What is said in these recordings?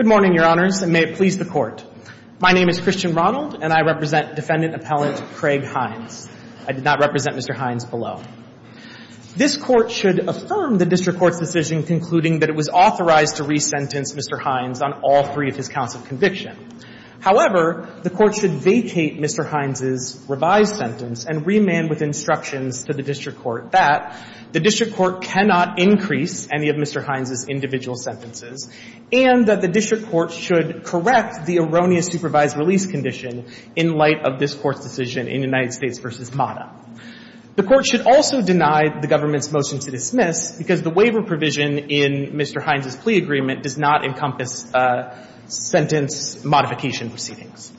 Good morning, Your Honors, and may it please the Court. My name is Christian Ronald, and I represent Defendant Appellant Craig Hines. I did not represent Mr. Hines below. This Court should affirm the district court's decision concluding that it was authorized to resentence Mr. Hines on all three of his counts of conviction. However, the Court should vacate Mr. Hines' revised sentence and remand with instructions to the district court that the district court cannot increase any of Mr. Hines' individual sentences and that the district court should correct the erroneous supervised release condition in light of this Court's decision in United States v. Mata. The Court should also deny the government's motion to dismiss because the waiver provision in Mr. Hines' plea agreement does not encompass sentence modification proceedings.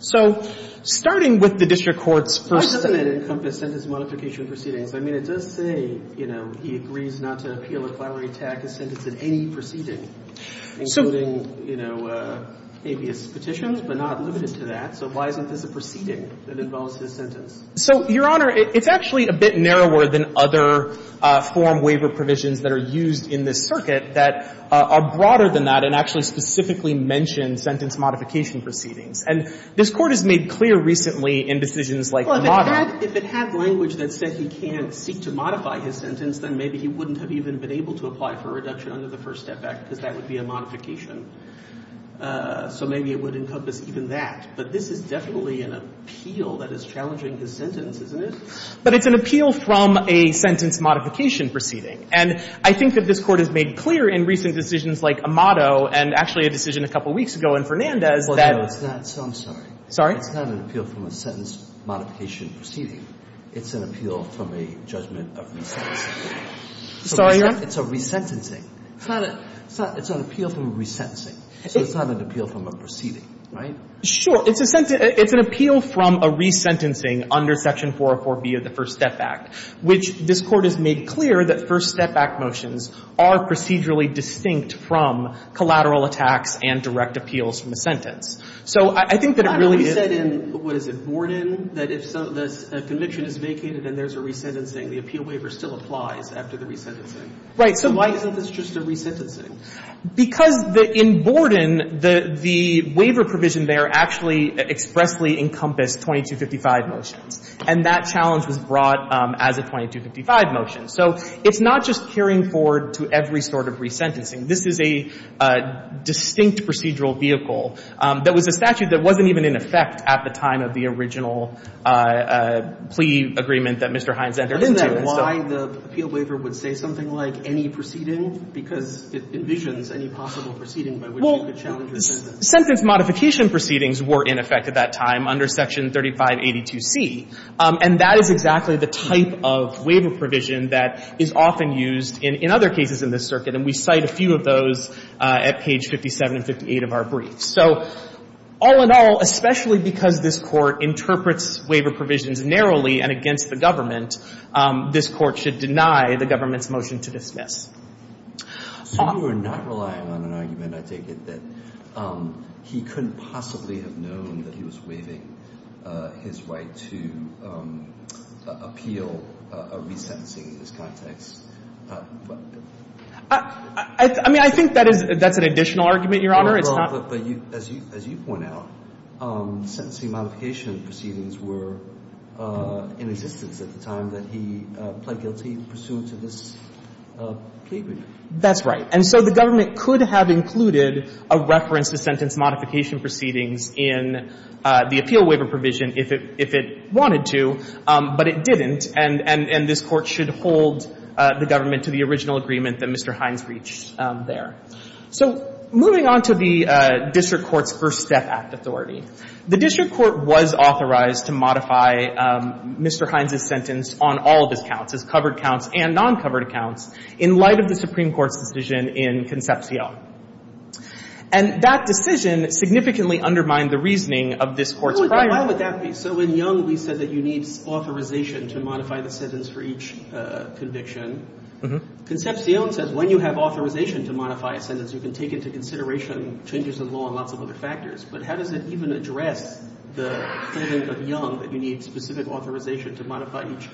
So, starting with the district court's first sentence… Why doesn't it encompass sentence modification proceedings? I mean, it does say, you know, habeas petitions, but not limited to that. So why isn't this a proceeding that involves his sentence? So, Your Honor, it's actually a bit narrower than other form waiver provisions that are used in this circuit that are broader than that and actually specifically mention sentence modification proceedings. And this Court has made clear recently in decisions like Mata… Well, if it had language that said he can't seek to modify his sentence, then maybe he wouldn't have even been able to apply for a reduction under the First Step Act because that would be a modification. So maybe it would encompass even that. But this is definitely an appeal that is challenging his sentence, isn't it? But it's an appeal from a sentence modification proceeding. And I think that this Court has made clear in recent decisions like Amato and actually a decision a couple weeks ago in Fernandez that… Well, no, it's not. So I'm sorry. Sorry? It's not an appeal from a sentence modification proceeding. It's an appeal from a judgment of resentencing. Sorry, Your Honor? It's a resentencing. It's not a — it's an appeal from a resentencing. So it's not an appeal from a proceeding, right? Sure. It's a — it's an appeal from a resentencing under Section 404B of the First Step Act, which this Court has made clear that First Step Act motions are procedurally distinct from collateral attacks and direct appeals from a sentence. So I think that it really is — But haven't we said in, what is it, Borden, that if a conviction is vacated and there's a resentencing, the appeal waiver still applies after the resentencing? Right. So — So why isn't this just a resentencing? Because the — in Borden, the waiver provision there actually expressly encompassed 2255 motions. And that challenge was brought as a 2255 motion. So it's not just carrying forward to every sort of resentencing. This is a distinct procedural vehicle that was a statute that wasn't even in effect at the time of the original plea agreement that Mr. Hines entered into. Are you saying why the appeal waiver would say something like, any proceeding? Because it envisions any possible proceeding by which you could challenge your sentence. Well, sentence modification proceedings were in effect at that time under Section 3582C. And that is exactly the type of waiver provision that is often used in other cases in this circuit. And we cite a few of those at page 57 and 58 of our briefs. So all in all, especially because this Court interprets waiver provisions narrowly and against the government, this Court should deny the government's motion to dismiss. So you are not relying on an argument, I take it, that he couldn't possibly have known that he was waiving his right to appeal a resentencing in this context? I mean, I think that is — that's an additional argument, Your Honor. It's not — But you — as you point out, sentencing modification proceedings were in existence at the time that he pled guilty pursuant to this plea agreement. That's right. And so the government could have included a reference to sentence modification proceedings in the appeal waiver provision if it — if it wanted to, but it didn't. And — and this Court should hold the government to the original agreement that Mr. Hines reached there. So moving on to the district court's First Step Act authority, the district court was authorized to modify Mr. Hines' sentence on all of his counts, his covered counts and non-covered accounts, in light of the Supreme Court's decision in Concepcion. And that decision significantly undermined the reasoning of this Court's prior — But why would that be? So in Young, we said that you need authorization to modify the sentence for each conviction. Mm-hmm. Concepcion says when you have authorization to modify a sentence, you can take into consideration changes in law and lots of other factors, but how does it even address the claim of Young that you need specific authorization to modify each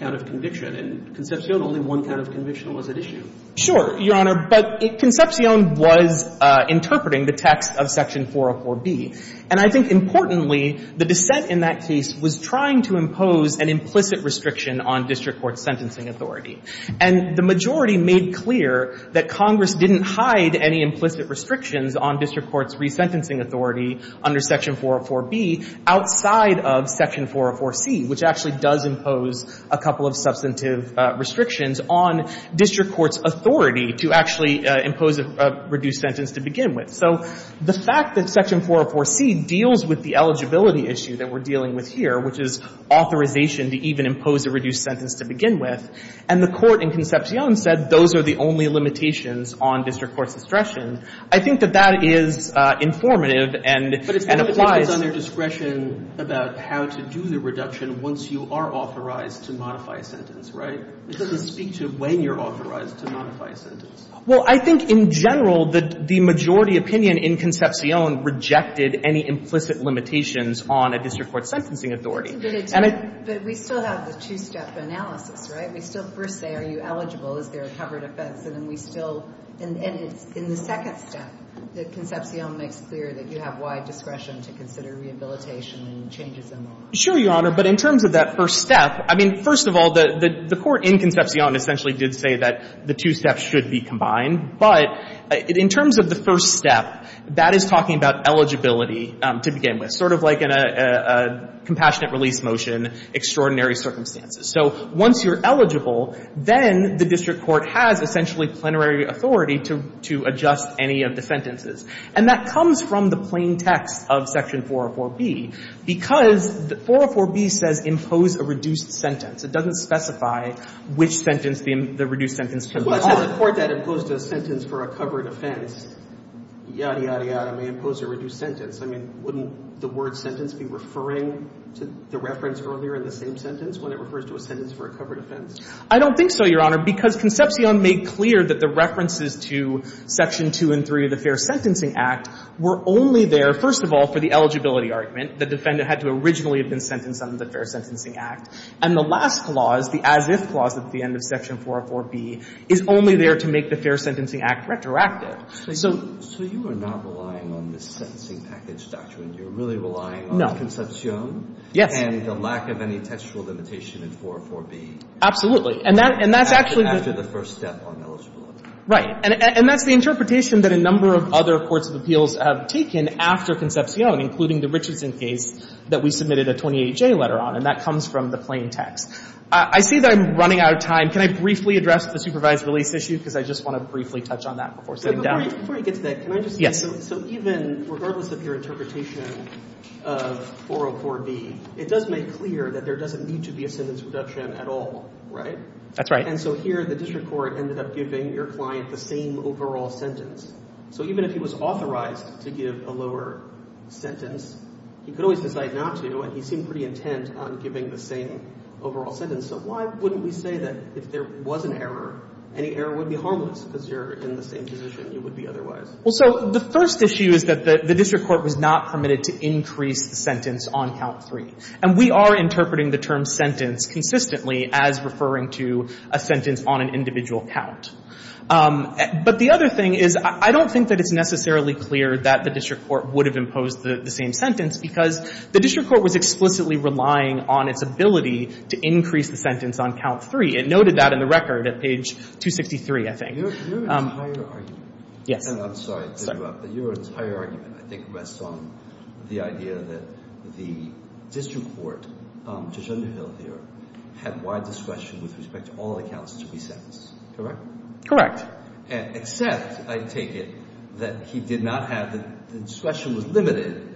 count of conviction? In Concepcion, only one count of conviction was at issue. Sure, Your Honor. But Concepcion was interpreting the text of Section 404B. And I think, importantly, the dissent in that case was trying to impose an implicit restriction on district court's sentencing authority. And the majority made clear that Congress didn't hide any implicit restrictions on district court's resentencing authority under Section 404B outside of Section 404C, which actually does impose a couple of substantive restrictions on district court's authority to actually impose a reduced sentence to begin with. So the fact that Section 404C deals with the eligibility issue that we're dealing with here, which is authorization to even impose a reduced sentence to begin with, and the Court in Concepcion said those are the only limitations on district court's discretion, I think that that is informative and applies But it's limitations on their discretion about how to do the reduction once you are authorized to modify a sentence, right? It doesn't speak to when you're authorized to modify a sentence. Well, I think in general, the majority opinion in Concepcion rejected any implicit limitations on a district court's sentencing authority. And it But we still have the two-step analysis, right? We still first say, are you eligible? Is there a covered offense? And then we still — and it's in the second step that Concepcion makes clear that you have wide discretion to consider rehabilitation and changes in law. Sure, Your Honor. But in terms of that first step, I mean, first of all, the Court in Concepcion essentially did say that the two steps should be combined. But in terms of the first step, that is talking about eligibility to begin with, sort of like in a compassionate release motion, extraordinary circumstances. So once you're eligible, then the district court has essentially plenary authority to adjust any of the sentences. And that comes from the plain text of Section 404b, because 404b says impose a reduced sentence. It doesn't specify which sentence the reduced sentence could be on. But as a court that imposed a sentence for a covered offense, yada, yada, yada, may impose a reduced sentence. I mean, wouldn't the word sentence be referring to the reference earlier in the same sentence when it refers to a sentence for a covered offense? I don't think so, Your Honor, because Concepcion made clear that the references to Section 2 and 3 of the Fair Sentencing Act were only there, first of all, for the eligibility argument. The defendant had to originally have been sentenced under the Fair Sentencing Act. And the last clause, the as-if clause at the end of Section 404b, is only there to make the Fair Sentencing Act retroactive. So you are not relying on the sentencing package doctrine. You're really relying on Concepcion and the lack of any textual limitation in 404b. Absolutely. And that's actually the — After the first step on eligibility. Right. And that's the interpretation that a number of other courts of appeals have taken after Concepcion, including the Richardson case that we submitted a 28-J letter on. And that comes from the plain text. I see that I'm running out of time. Can I briefly address the supervised release issue? Because I just want to briefly touch on that before sitting down. But before you get to that, can I just say, so even — regardless of your interpretation of 404b, it does make clear that there doesn't need to be a sentence reduction at all, right? That's right. And so here, the district court ended up giving your client the same overall sentence. So even if he was authorized to give a lower sentence, he could always decide not to. And he seemed pretty intent on giving the same overall sentence. And so why wouldn't we say that if there was an error, any error would be harmless because you're in the same position you would be otherwise? Well, so the first issue is that the district court was not permitted to increase the sentence on count three. And we are interpreting the term sentence consistently as referring to a sentence on an individual count. But the other thing is, I don't think that it's necessarily clear that the district court would have imposed the same sentence because the district court was explicitly relying on its ability to increase the sentence on count three. It noted that in the record at page 263, I think. Your entire argument — Yes. And I'm sorry to interrupt, but your entire argument, I think, rests on the idea that the district court, Judge Underhill here, had wide discretion with respect to all the counts to be sentenced, correct? Correct. Except, I take it, that he did not have — the discretion was limited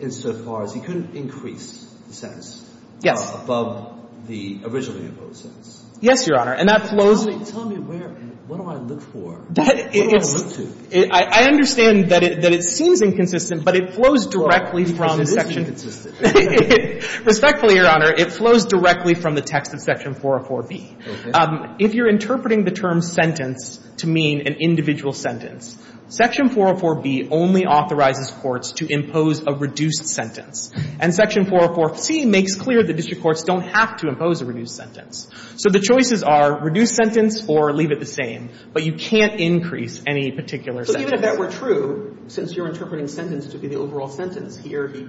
insofar as he couldn't increase the sentence — Yes. — above the originally imposed sentence. Yes, Your Honor. And that flows — Tell me — tell me where — what do I look for? What do I look to? I understand that it seems inconsistent, but it flows directly from the section — Well, it is inconsistent. Respectfully, Your Honor, it flows directly from the text of Section 404b. Okay. If you're interpreting the term sentence to mean an individual sentence, Section 404b only authorizes courts to impose a reduced sentence. And Section 404c makes clear that district courts don't have to impose a reduced sentence. So the choices are reduced sentence or leave it the same, but you can't increase any particular sentence. So even if that were true, since you're interpreting sentence to be the overall sentence, here he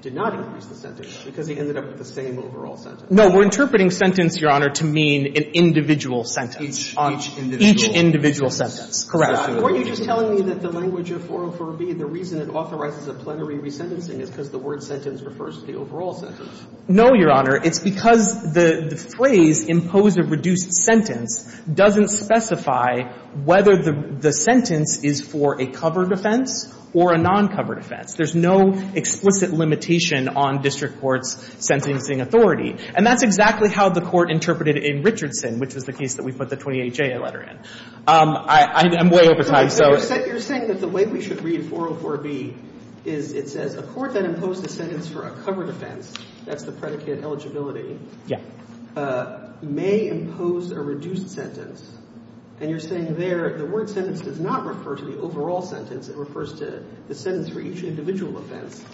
did not increase the sentence because he ended up with the same overall sentence. No. We're interpreting sentence, Your Honor, to mean an individual sentence. Each — each individual sentence. Each individual sentence. Correct. Were you just telling me that the language of 404b, the reason it authorizes a plenary resentencing is because the word sentence refers to the overall sentence? No, Your Honor. It's because the — the phrase, impose a reduced sentence, doesn't specify whether the — the sentence is for a covered offense or a non-covered offense. There's no explicit limitation on district courts' sentencing authority. And that's exactly how the Court interpreted it in Richardson, which was the case that we put the 28-J letter in. I'm way over time, so — So you're saying that the way we should read 404b is it says, a court that imposed a sentence for a covered offense, that's the predicate eligibility, may impose a reduced sentence. And you're saying there the word sentence does not refer to the overall sentence. It refers to the sentence for each individual offense.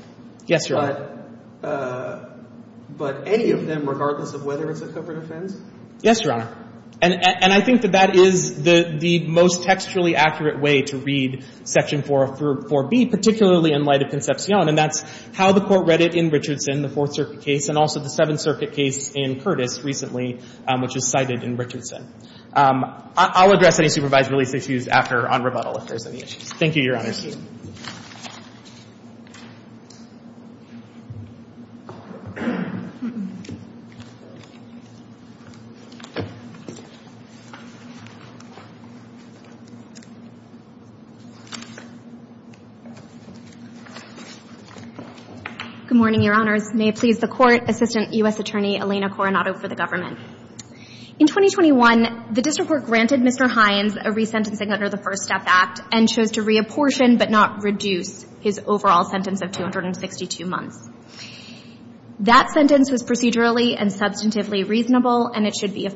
Yes, Your Honor. But — but any of them, regardless of whether it's a covered offense? Yes, Your Honor. And — and I think that that is the — the most textually accurate way to read Section 404b, particularly in light of Concepcion. And that's how the Court read it in Richardson, the Fourth Circuit case, and also the Seventh Circuit case in Curtis recently, which is cited in Richardson. I'll address any supervised release issues after — on rebuttal, if there's any issues. Thank you, Your Honor. Thank you. Good morning, Your Honors. May it please the Court, Assistant U.S. Attorney Elena Coronado for the government. In 2021, the District Court granted Mr. Hines a resentencing under the First Step Act and chose to reapportion, but not reduce, his overall sentence of 262 months. That sentence was procedurally and substantively reasonable, and it should be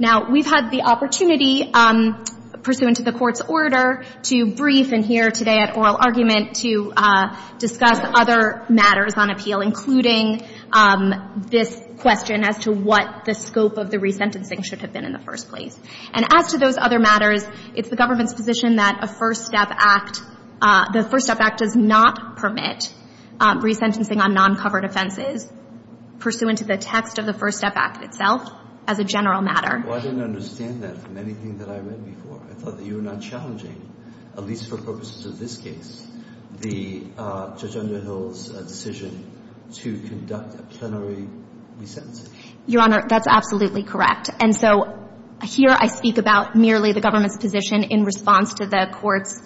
Now, we've had the opportunity, pursuant to the Court's order, to brief and hear today at oral argument to discuss other matters on appeal, including this question as to what the scope of the resentencing should have been in the first place. And as to those other matters, it's the government's position that a First Step Act — the First Step Act does not permit resentencing on non-covered offenses, pursuant to the text of the First Step Act itself, as a general matter. Well, I didn't understand that from anything that I read before. I thought that you were not challenging, at least for purposes of this case, the Judge Underhill's decision to conduct a plenary resentencing. Your Honor, that's absolutely correct. And so here I speak about merely the government's position in response to the Court's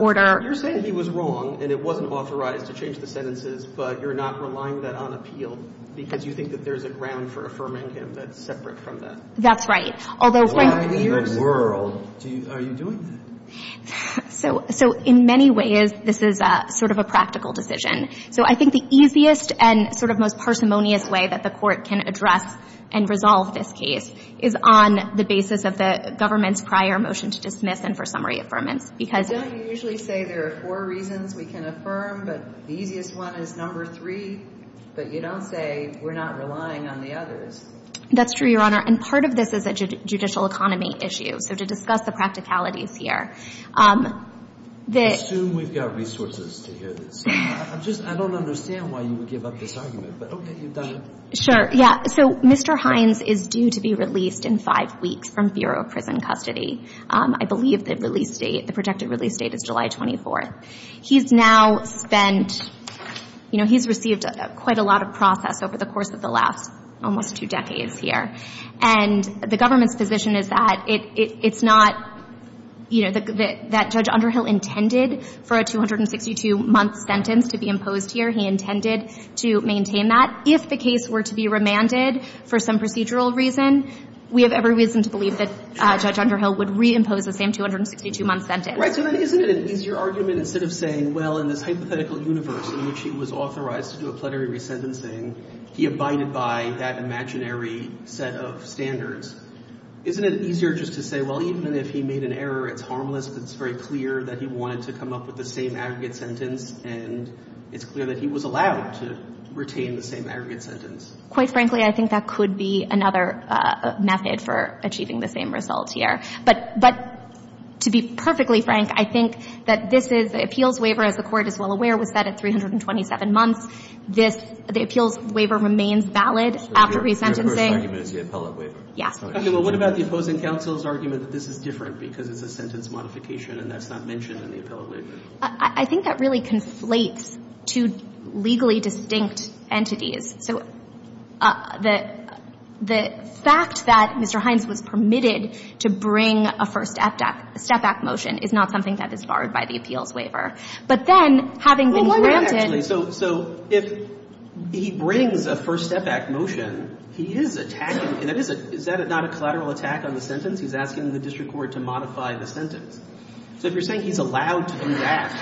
order — You're saying he was wrong and it wasn't authorized to change the sentences, but you're not relying that on appeal because you think that there's a ground for affirming him that's separate from that? That's right. Why in the world are you doing that? So in many ways, this is sort of a practical decision. So I think the easiest and sort of most parsimonious way that the Court can address and resolve this case is on the basis of the government's prior motion to dismiss and for summary affirmance because — You don't usually say there are four reasons we can affirm, but the easiest one is number three, but you don't say we're not relying on the others. That's true, Your Honor. And part of this is a judicial economy issue. So to discuss the practicalities here, the — I assume we've got resources to hear this. I don't understand why you would give up this argument, but okay, you've done it. Sure, yeah. So Mr. Hines is due to be released in five weeks from Bureau of Prison Custody. I believe the release date, the projected release date is July 24th. He's now spent — you know, he's received quite a lot of process over the course of the last almost two decades here. And the government's position is that it's not — you know, that Judge Underhill intended for a 262-month sentence to be imposed here. He intended to maintain that. If the case were to be remanded for some procedural reason, we have every reason to believe that Judge Underhill would reimpose the same 262-month sentence. So then isn't it an easier argument instead of saying, well, in this hypothetical universe in which he was authorized to do a plenary resentencing, he abided by that imaginary set of standards. Isn't it easier just to say, well, even if he made an error, it's harmless, but it's very clear that he wanted to come up with the same aggregate sentence, and it's clear that he was allowed to retain the same aggregate sentence? Quite frankly, I think that could be another method for achieving the same results here. But to be perfectly frank, I think that this is — the appeals waiver, as the Court is well aware, was set at 327 months. This — the appeals waiver remains valid after resentencing. So your first argument is the appellate waiver? Yes. Okay. Well, what about the opposing counsel's argument that this is different because it's a sentence modification and that's not mentioned in the appellate waiver? I think that really conflates two legally distinct entities. So the fact that Mr. Hines was permitted to bring a first step back motion is not something that is barred by the appeals waiver. But then, having been granted — So if he brings a first step back motion, he is attacking — is that not a collateral attack on the sentence? He's asking the district court to modify the sentence. So if you're saying he's allowed to come back,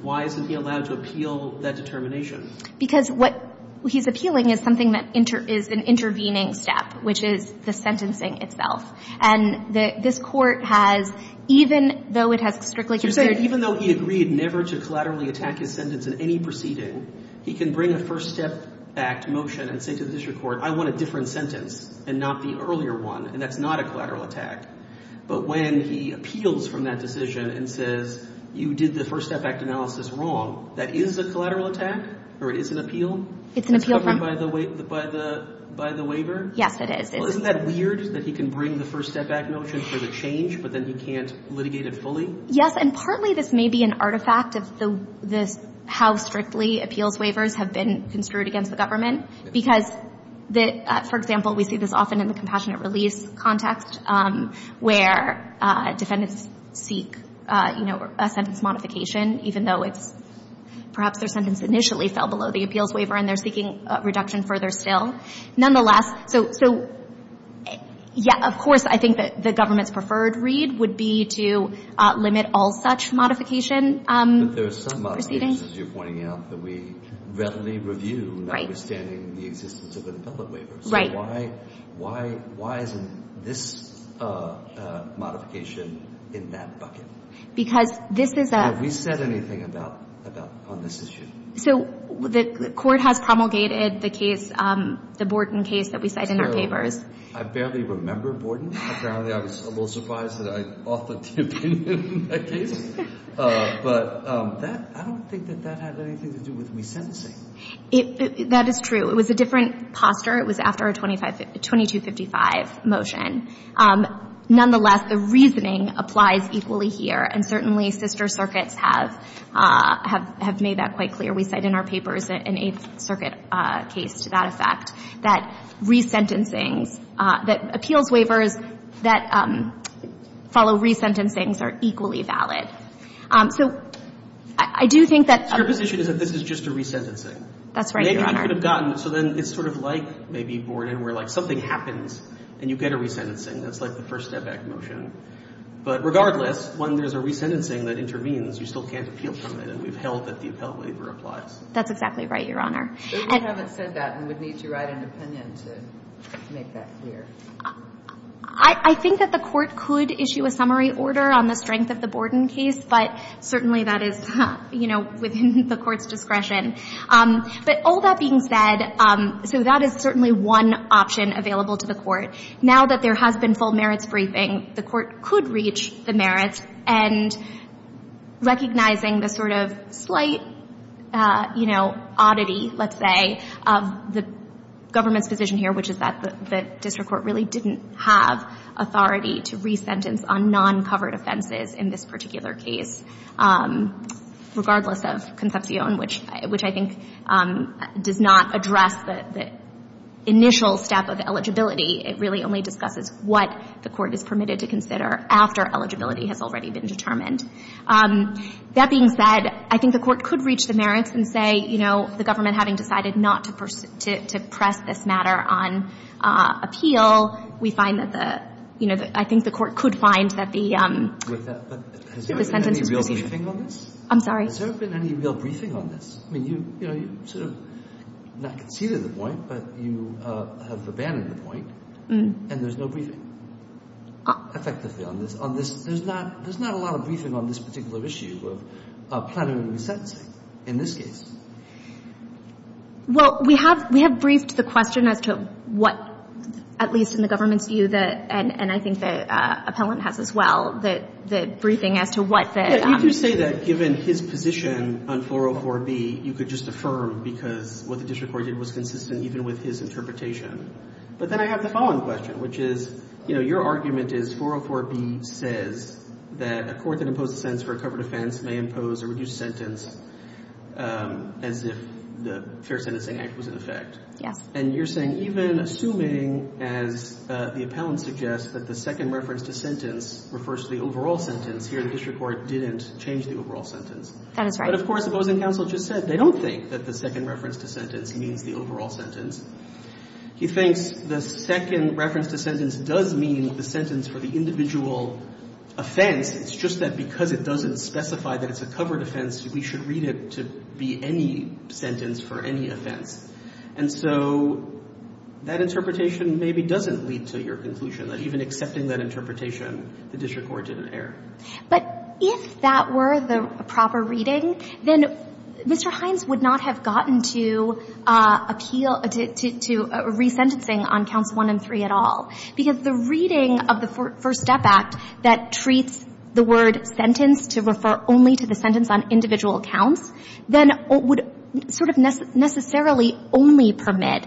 why isn't he allowed to appeal that determination? Because what he's appealing is something that is an intervening step, which is the sentencing itself. And this Court has — even though it has strictly considered — You're saying even though he agreed never to collaterally attack his sentence in any proceeding, he can bring a first step back motion and say to the district court, I want a different sentence and not the earlier one, and that's not a collateral attack. But when he appeals from that decision and says, you did the first step back analysis wrong, that is a collateral attack? Or it is an appeal? It's an appeal from — Covered by the waiver? Yes, it is. Well, isn't that weird that he can bring the first step back motion for the change, but then he can't litigate it fully? Yes. And partly this may be an artifact of the — this — how strictly appeals waivers have been construed against the government, because the — for example, we see this often in the compassionate release context, where defendants seek, you know, a sentence even though it's — perhaps their sentence initially fell below the appeals waiver and they're seeking a reduction further still. Nonetheless, so — so, yeah, of course, I think that the government's preferred read would be to limit all such modification. But there are some modifications, as you're pointing out, that we readily review, notwithstanding the existence of an appellate waiver. Right. So why — why — why isn't this modification in that bucket? Because this is a — Have we said anything about — about — on this issue? So the Court has promulgated the case — the Borden case that we cite in our papers. I barely remember Borden, apparently. I was a little surprised that I authored the opinion in that case. But that — I don't think that that had anything to do with me sentencing. That is true. It was a different posture. It was after a 2255 motion. Nonetheless, the reasoning applies equally here. And certainly, sister circuits have — have — have made that quite clear. We cite in our papers an Eighth Circuit case to that effect, that resentencings — that appeals waivers that follow resentencings are equally valid. So I do think that — So your position is that this is just a resentencing? That's right, Your Honor. They could have gotten — so then it's sort of like maybe Borden, where like something happens and you get a resentencing. That's like the first step back motion. But regardless, when there's a resentencing that intervenes, you still can't appeal from it. And we've held that the appellate waiver applies. That's exactly right, Your Honor. But we haven't said that and would need to write an opinion to make that clear. I — I think that the Court could issue a summary order on the strength of the Borden case. But certainly, that is, you know, within the Court's discretion. But all that being said, so that is certainly one option available to the Court. Now that there has been full merits briefing, the Court could reach the merits. And recognizing the sort of slight, you know, oddity, let's say, of the government's position here, which is that the District Court really didn't have authority to resentence on non-covered offenses in this particular case, regardless of Concepcion, which I think does not address the initial step of eligibility. It really only discusses what the Court is permitted to consider after eligibility has already been determined. That being said, I think the Court could reach the merits and say, you know, the government having decided not to press this matter on appeal, we find that the — you know, I think the Court could find that the — But has there been any real briefing on this? I'm sorry? Has there been any real briefing on this? I mean, you — you know, you sort of not conceded the point, but you have abandoned the point, and there's no briefing, effectively, on this. On this, there's not — there's not a lot of briefing on this particular issue of plenary resentencing in this case. Well, we have — we have briefed the question as to what, at least in the government's view, that — and I think the appellant has as well — the briefing as to what the — You do say that given his position on 404B, you could just affirm, because what the district court did was consistent even with his interpretation. But then I have the following question, which is, you know, your argument is 404B says that a court that imposed a sentence for a covered offense may impose a reduced sentence as if the Fair Sentencing Act was in effect. Yes. And you're saying even assuming, as the appellant suggests, that the second reference to sentence refers to the overall sentence, here the district court didn't change the overall sentence. That is right. But of course, the opposing counsel just said they don't think that the second reference to sentence means the overall sentence. He thinks the second reference to sentence does mean the sentence for the individual offense. It's just that because it doesn't specify that it's a covered offense, we should read it to be any sentence for any offense. And so that interpretation maybe doesn't lead to your conclusion, that even accepting that interpretation, the district court didn't err. But if that were the proper reading, then Mr. Hines would not have gotten to appeal to resentencing on counts one and three at all, because the reading of the First Step Act that treats the word sentence to refer only to the sentence on individual counts, then it would sort of necessarily only permit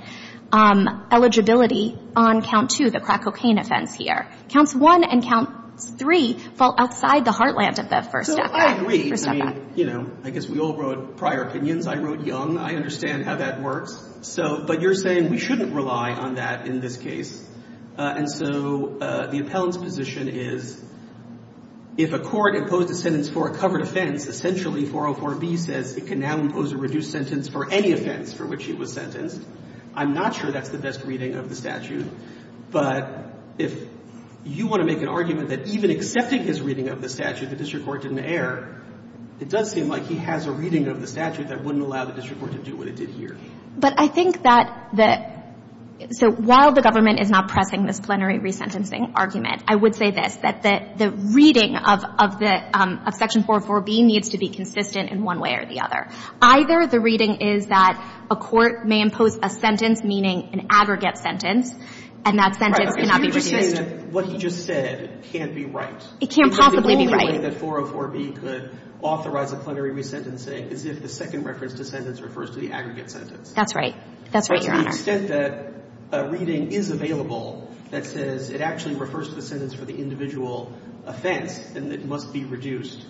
eligibility on count two, the crack cocaine offense here. Counts one and count three fall outside the heartland of the First Step Act. So I agree. I mean, you know, I guess we all wrote prior opinions. I wrote young. I understand how that works. So but you're saying we shouldn't rely on that in this case. And so the appellant's position is if a court imposed a sentence for a covered offense, essentially 404B says it can now impose a reduced sentence for any offense for which it was sentenced. I'm not sure that's the best reading of the statute. But if you want to make an argument that even accepting his reading of the statute, the district court didn't err, it does seem like he has a reading of the statute that wouldn't allow the district court to do what it did here. But I think that the so while the government is not pressing this plenary resentencing argument, I would say this, that the reading of section 404B needs to be consistent in one way or the other. Either the reading is that a court may impose a sentence, meaning an aggregate sentence, and that sentence cannot be reduced. Because you're just saying that what he just said can't be right. It can't possibly be right. Because the only way that 404B could authorize a plenary resentencing is if the second reference to sentence refers to the aggregate sentence. That's right. That's right, Your Honor. But to the extent that a reading is available that says it actually refers to the sentence for the individual offense, then it must be reduced.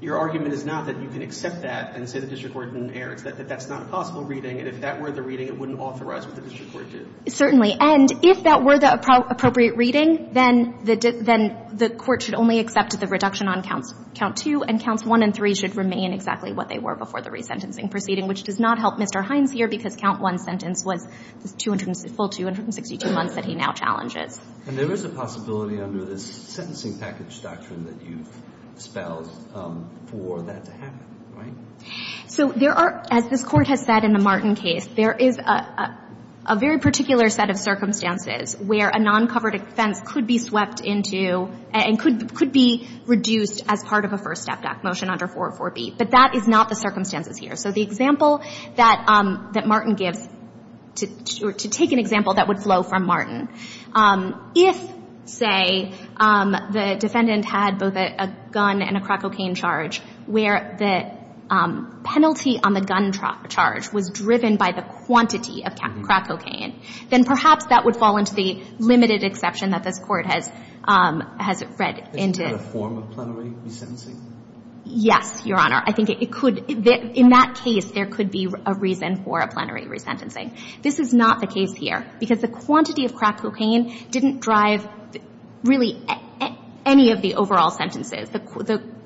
Your argument is not that you can accept that and say the district court didn't err. It's that that's not a possible reading. And if that were the reading, it wouldn't authorize what the district court did. Certainly. And if that were the appropriate reading, then the court should only accept the reduction on Counts 2 and Counts 1 and 3 should remain exactly what they were before the resentencing proceeding, which does not help Mr. Hines here, because Count 1's sentence was the full 262 months that he now challenges. And there is a possibility under this sentencing package doctrine that you've spelled for that to happen, right? So there are, as this Court has said in the Martin case, there is a very particular set of circumstances where a non-covered offense could be swept into and could be reduced as part of a first step motion under 404B. But that is not the circumstances here. So the example that Martin gives, to take an example that would flow from Martin, if, say, the defendant had both a gun and a crack cocaine charge where the penalty on the gun charge was driven by the quantity of crack cocaine, then perhaps that would fall into the limited exception that this Court has read into. Isn't that a form of plenary resentencing? Yes, Your Honor. I think it could. In that case, there could be a reason for a plenary resentencing. This is not the case here, because the quantity of crack cocaine didn't drive really any of the overall sentences.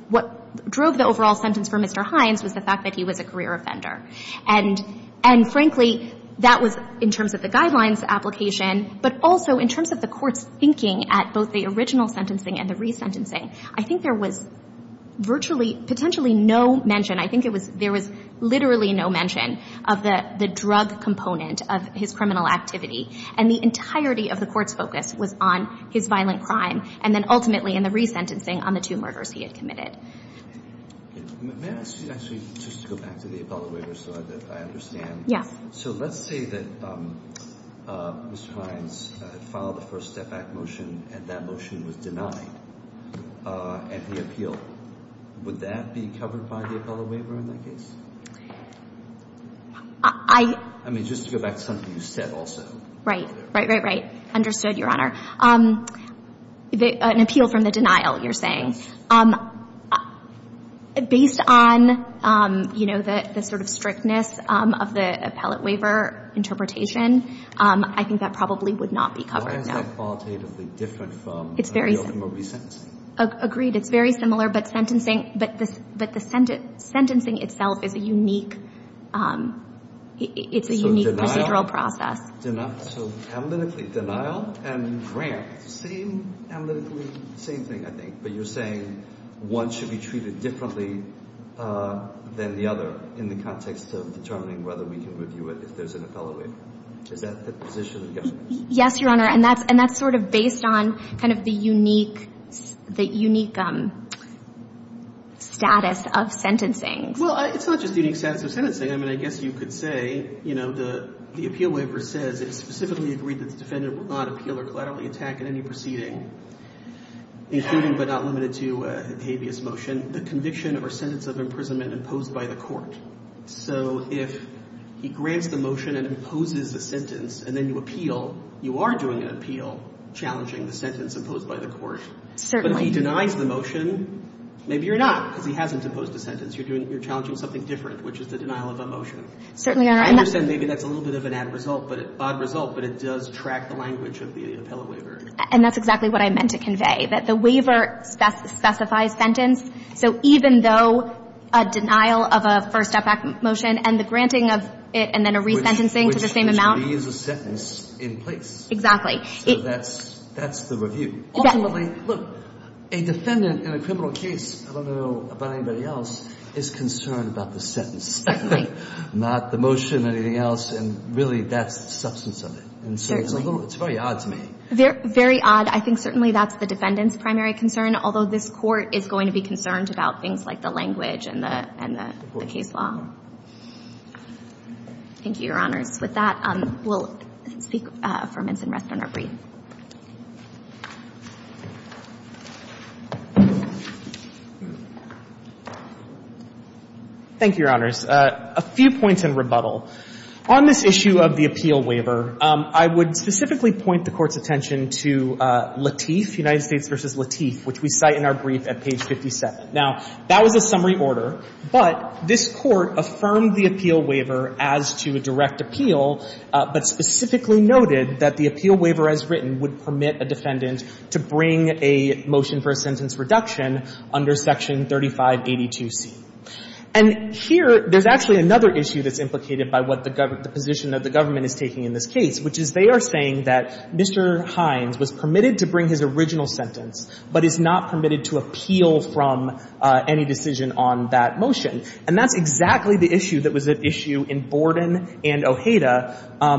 What drove the overall sentence for Mr. Hines was the fact that he was a career offender. And frankly, that was in terms of the guidelines application, but also in terms of the Court's thinking at both the original sentencing and the resentencing. I think there was virtually, potentially no mention, I think there was literally no mention of the drug component of his criminal activity, and the entirety of the Court's focus was on his violent crime, and then ultimately in the resentencing on the two murders he had committed. May I actually just go back to the appellate waiver so that I understand? Yes. So let's say that Mr. Hines filed a First Step Act motion, and that motion was denied at the appeal. Would that be covered by the appellate waiver in that case? I... I mean, just to go back to something you said also. Right. Right, right, right. Understood, Your Honor. An appeal from the denial, you're saying. Based on, you know, the sort of strictness of the appellate waiver interpretation, I think that probably would not be covered, no. Why is that qualitatively different from an appeal from a resentencing? Agreed. It's very similar, but sentencing, but the sentencing itself is a unique, it's a unique procedural process. So analytically, denial and grant, same analytically, same thing, I think. But you're saying one should be treated differently than the other in the context of determining whether we can review it if there's an appellate waiver. Is that the position of governments? Yes, Your Honor. And that's, and that's sort of based on kind of the unique, the unique status of sentencing. Well, it's not just the unique status of sentencing. I mean, I guess you could say, you know, the appeal waiver says it specifically agreed that the defendant will not appeal or collaterally attack in any proceeding, including but not limited to a habeas motion, the conviction or sentence of imprisonment imposed by the court. So if he grants the motion and imposes the sentence and then you appeal, you are doing an appeal challenging the sentence imposed by the court. Certainly. But if he denies the motion, maybe you're not, because he hasn't imposed a sentence. You're doing, you're challenging something different, which is the denial of a motion. Certainly, Your Honor. I understand maybe that's a little bit of an odd result, but it does track the language of the appellate waiver. And that's exactly what I meant to convey, that the waiver specifies sentence. So even though a denial of a first-effect motion and the granting of it and then a resentencing to the same amount. He is a sentence in place. Exactly. So that's the review. Ultimately, look, a defendant in a criminal case, I don't know about anybody else, is concerned about the sentence, not the motion, anything else. And really, that's the substance of it. And so it's a little, it's very odd to me. Very odd. I think certainly that's the defendant's primary concern, although this Court is going to be concerned about things like the language and the case law. Thank you, Your Honors. With that, we'll speak for minutes and rest on our brief. Thank you, Your Honors. A few points in rebuttal. On this issue of the appeal waiver, I would specifically point the Court's attention to Latif, United States v. Latif, which we cite in our brief at page 57. Now, that was a summary order, but this Court affirmed the appeal waiver as to a direct appeal, but specifically noted that the appeal waiver as written would permit a defendant to bring a motion for a sentence reduction under Section 3582C. And here, there's actually another issue that's implicated by what the position of the government is taking in this case, which is they are saying that Mr. Hines was permitted to bring his original sentence, but is not permitted to appeal from any decision on that motion. And that's exactly the issue that was at issue in Borden and Ojeda,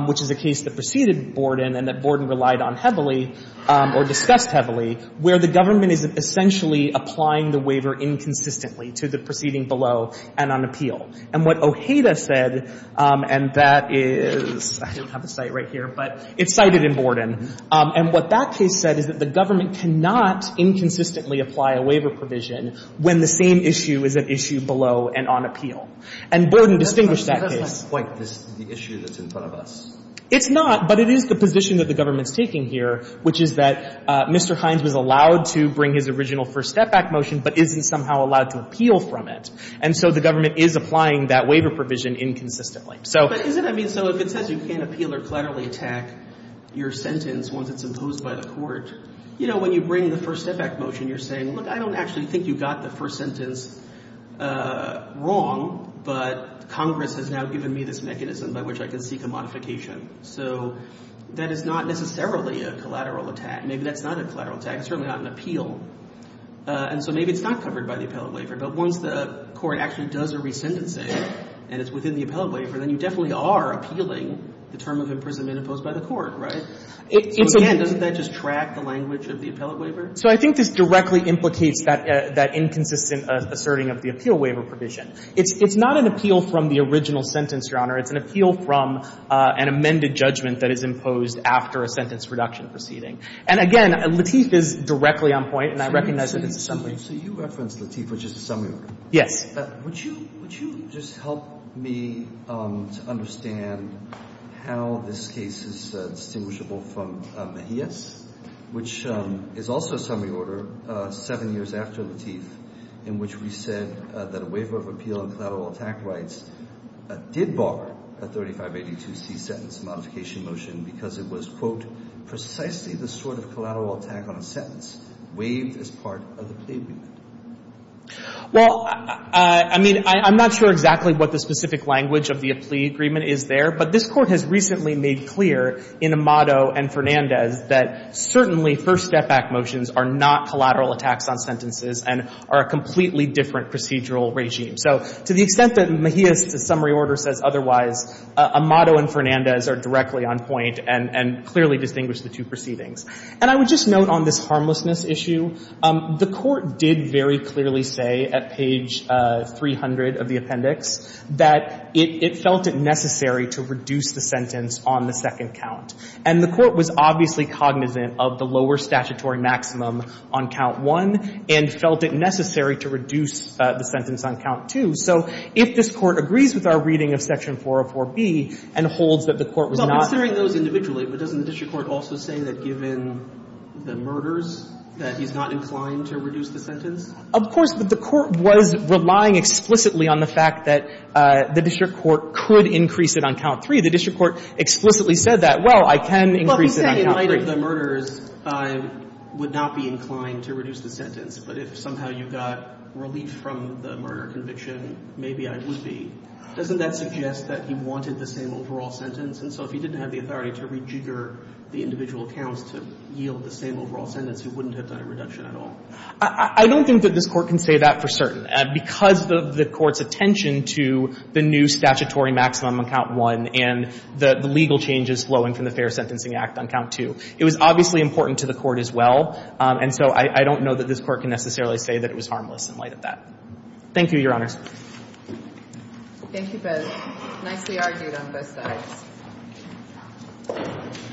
which is a case that preceded Borden and that Borden relied on heavily or discussed heavily, where the government is essentially applying the waiver inconsistently to the proceeding below and on appeal. And what Ojeda said, and that is — I don't have a cite right here, but it's cited in Borden — and what that case said is that the government cannot inconsistently apply a waiver provision when the same issue is at issue below and on appeal. And Borden distinguished that case. But that's not quite the issue that's in front of us. It's not, but it is the position that the government's taking here, which is that Mr. Hines was allowed to bring his original first step-back motion, but isn't somehow allowed to appeal from it. And so the government is applying that waiver provision inconsistently. So — But isn't — I mean, so if it says you can't appeal or collaterally attack your sentence once it's imposed by the Court, you know, when you bring the first step-back motion, you're saying, look, I don't actually think you got the first sentence wrong, but Congress has now given me this mechanism by which I can seek a modification. So that is not necessarily a collateral attack. Maybe that's not a collateral attack. It's certainly not an appeal. And so maybe it's not covered by the appellate waiver. But once the Court actually does a resendency and it's within the appellate waiver, then you definitely are appealing the term of imprisonment imposed by the Court, right? So again, doesn't that just track the language of the appellate waiver? So I think this directly implicates that inconsistent asserting of the appeal waiver provision. It's not an appeal from the original sentence, Your Honor. It's an appeal from an amended judgment that is imposed after a sentence reduction proceeding. And again, Latif is directly on point, and I recognize that it's a summary. So you referenced Latif, which is a summary order. Yes. Would you just help me to understand how this case is distinguishable from Mejia's, which is also a summary order seven years after Latif, in which we said that a waiver of appeal and collateral attack rights did bar a 3582C sentence modification motion because it was, quote, precisely the sort of collateral attack on a sentence waived as part of the plea agreement? Well, I mean, I'm not sure exactly what the specific language of the plea agreement is there. But this Court has recently made clear in Amado and Fernandez that certainly first step back motions are not collateral attacks on sentences and are a completely different procedural regime. So to the extent that Mejia's summary order says otherwise, Amado and Fernandez are directly on point and clearly distinguish the two proceedings. And I would just note on this harmlessness issue, the Court did very clearly say at page 300 of the appendix that it felt it necessary to reduce the sentence on the second count. And the Court was obviously cognizant of the lower statutory maximum on count one and felt it necessary to reduce the sentence on count two. So if this Court agrees with our reading of section 404B and holds that the Court was not going to do that. Well, considering those individually, but doesn't the district court also say that given the murders that he's not inclined to reduce the sentence? Of course, but the Court was relying explicitly on the fact that the district court could increase it on count three. The district court explicitly said that, well, I can increase it on count three. Well, he said in light of the murders, I would not be inclined to reduce the sentence. But if somehow you got relief from the murder conviction, maybe I would be. Doesn't that suggest that he wanted the same overall sentence? And so if he didn't have the authority to rejigger the individual counts to yield the same overall sentence, he wouldn't have done a reduction at all? I don't think that this Court can say that for certain. Because of the Court's attention to the new statutory maximum on count one and the legal changes flowing from the Fair Sentencing Act on count two, it was obviously important to the Court as well. And so I don't know that this Court can necessarily say that it was harmless in light of that. Thank you, Your Honors. Thank you, Bez. Nicely argued on both sides.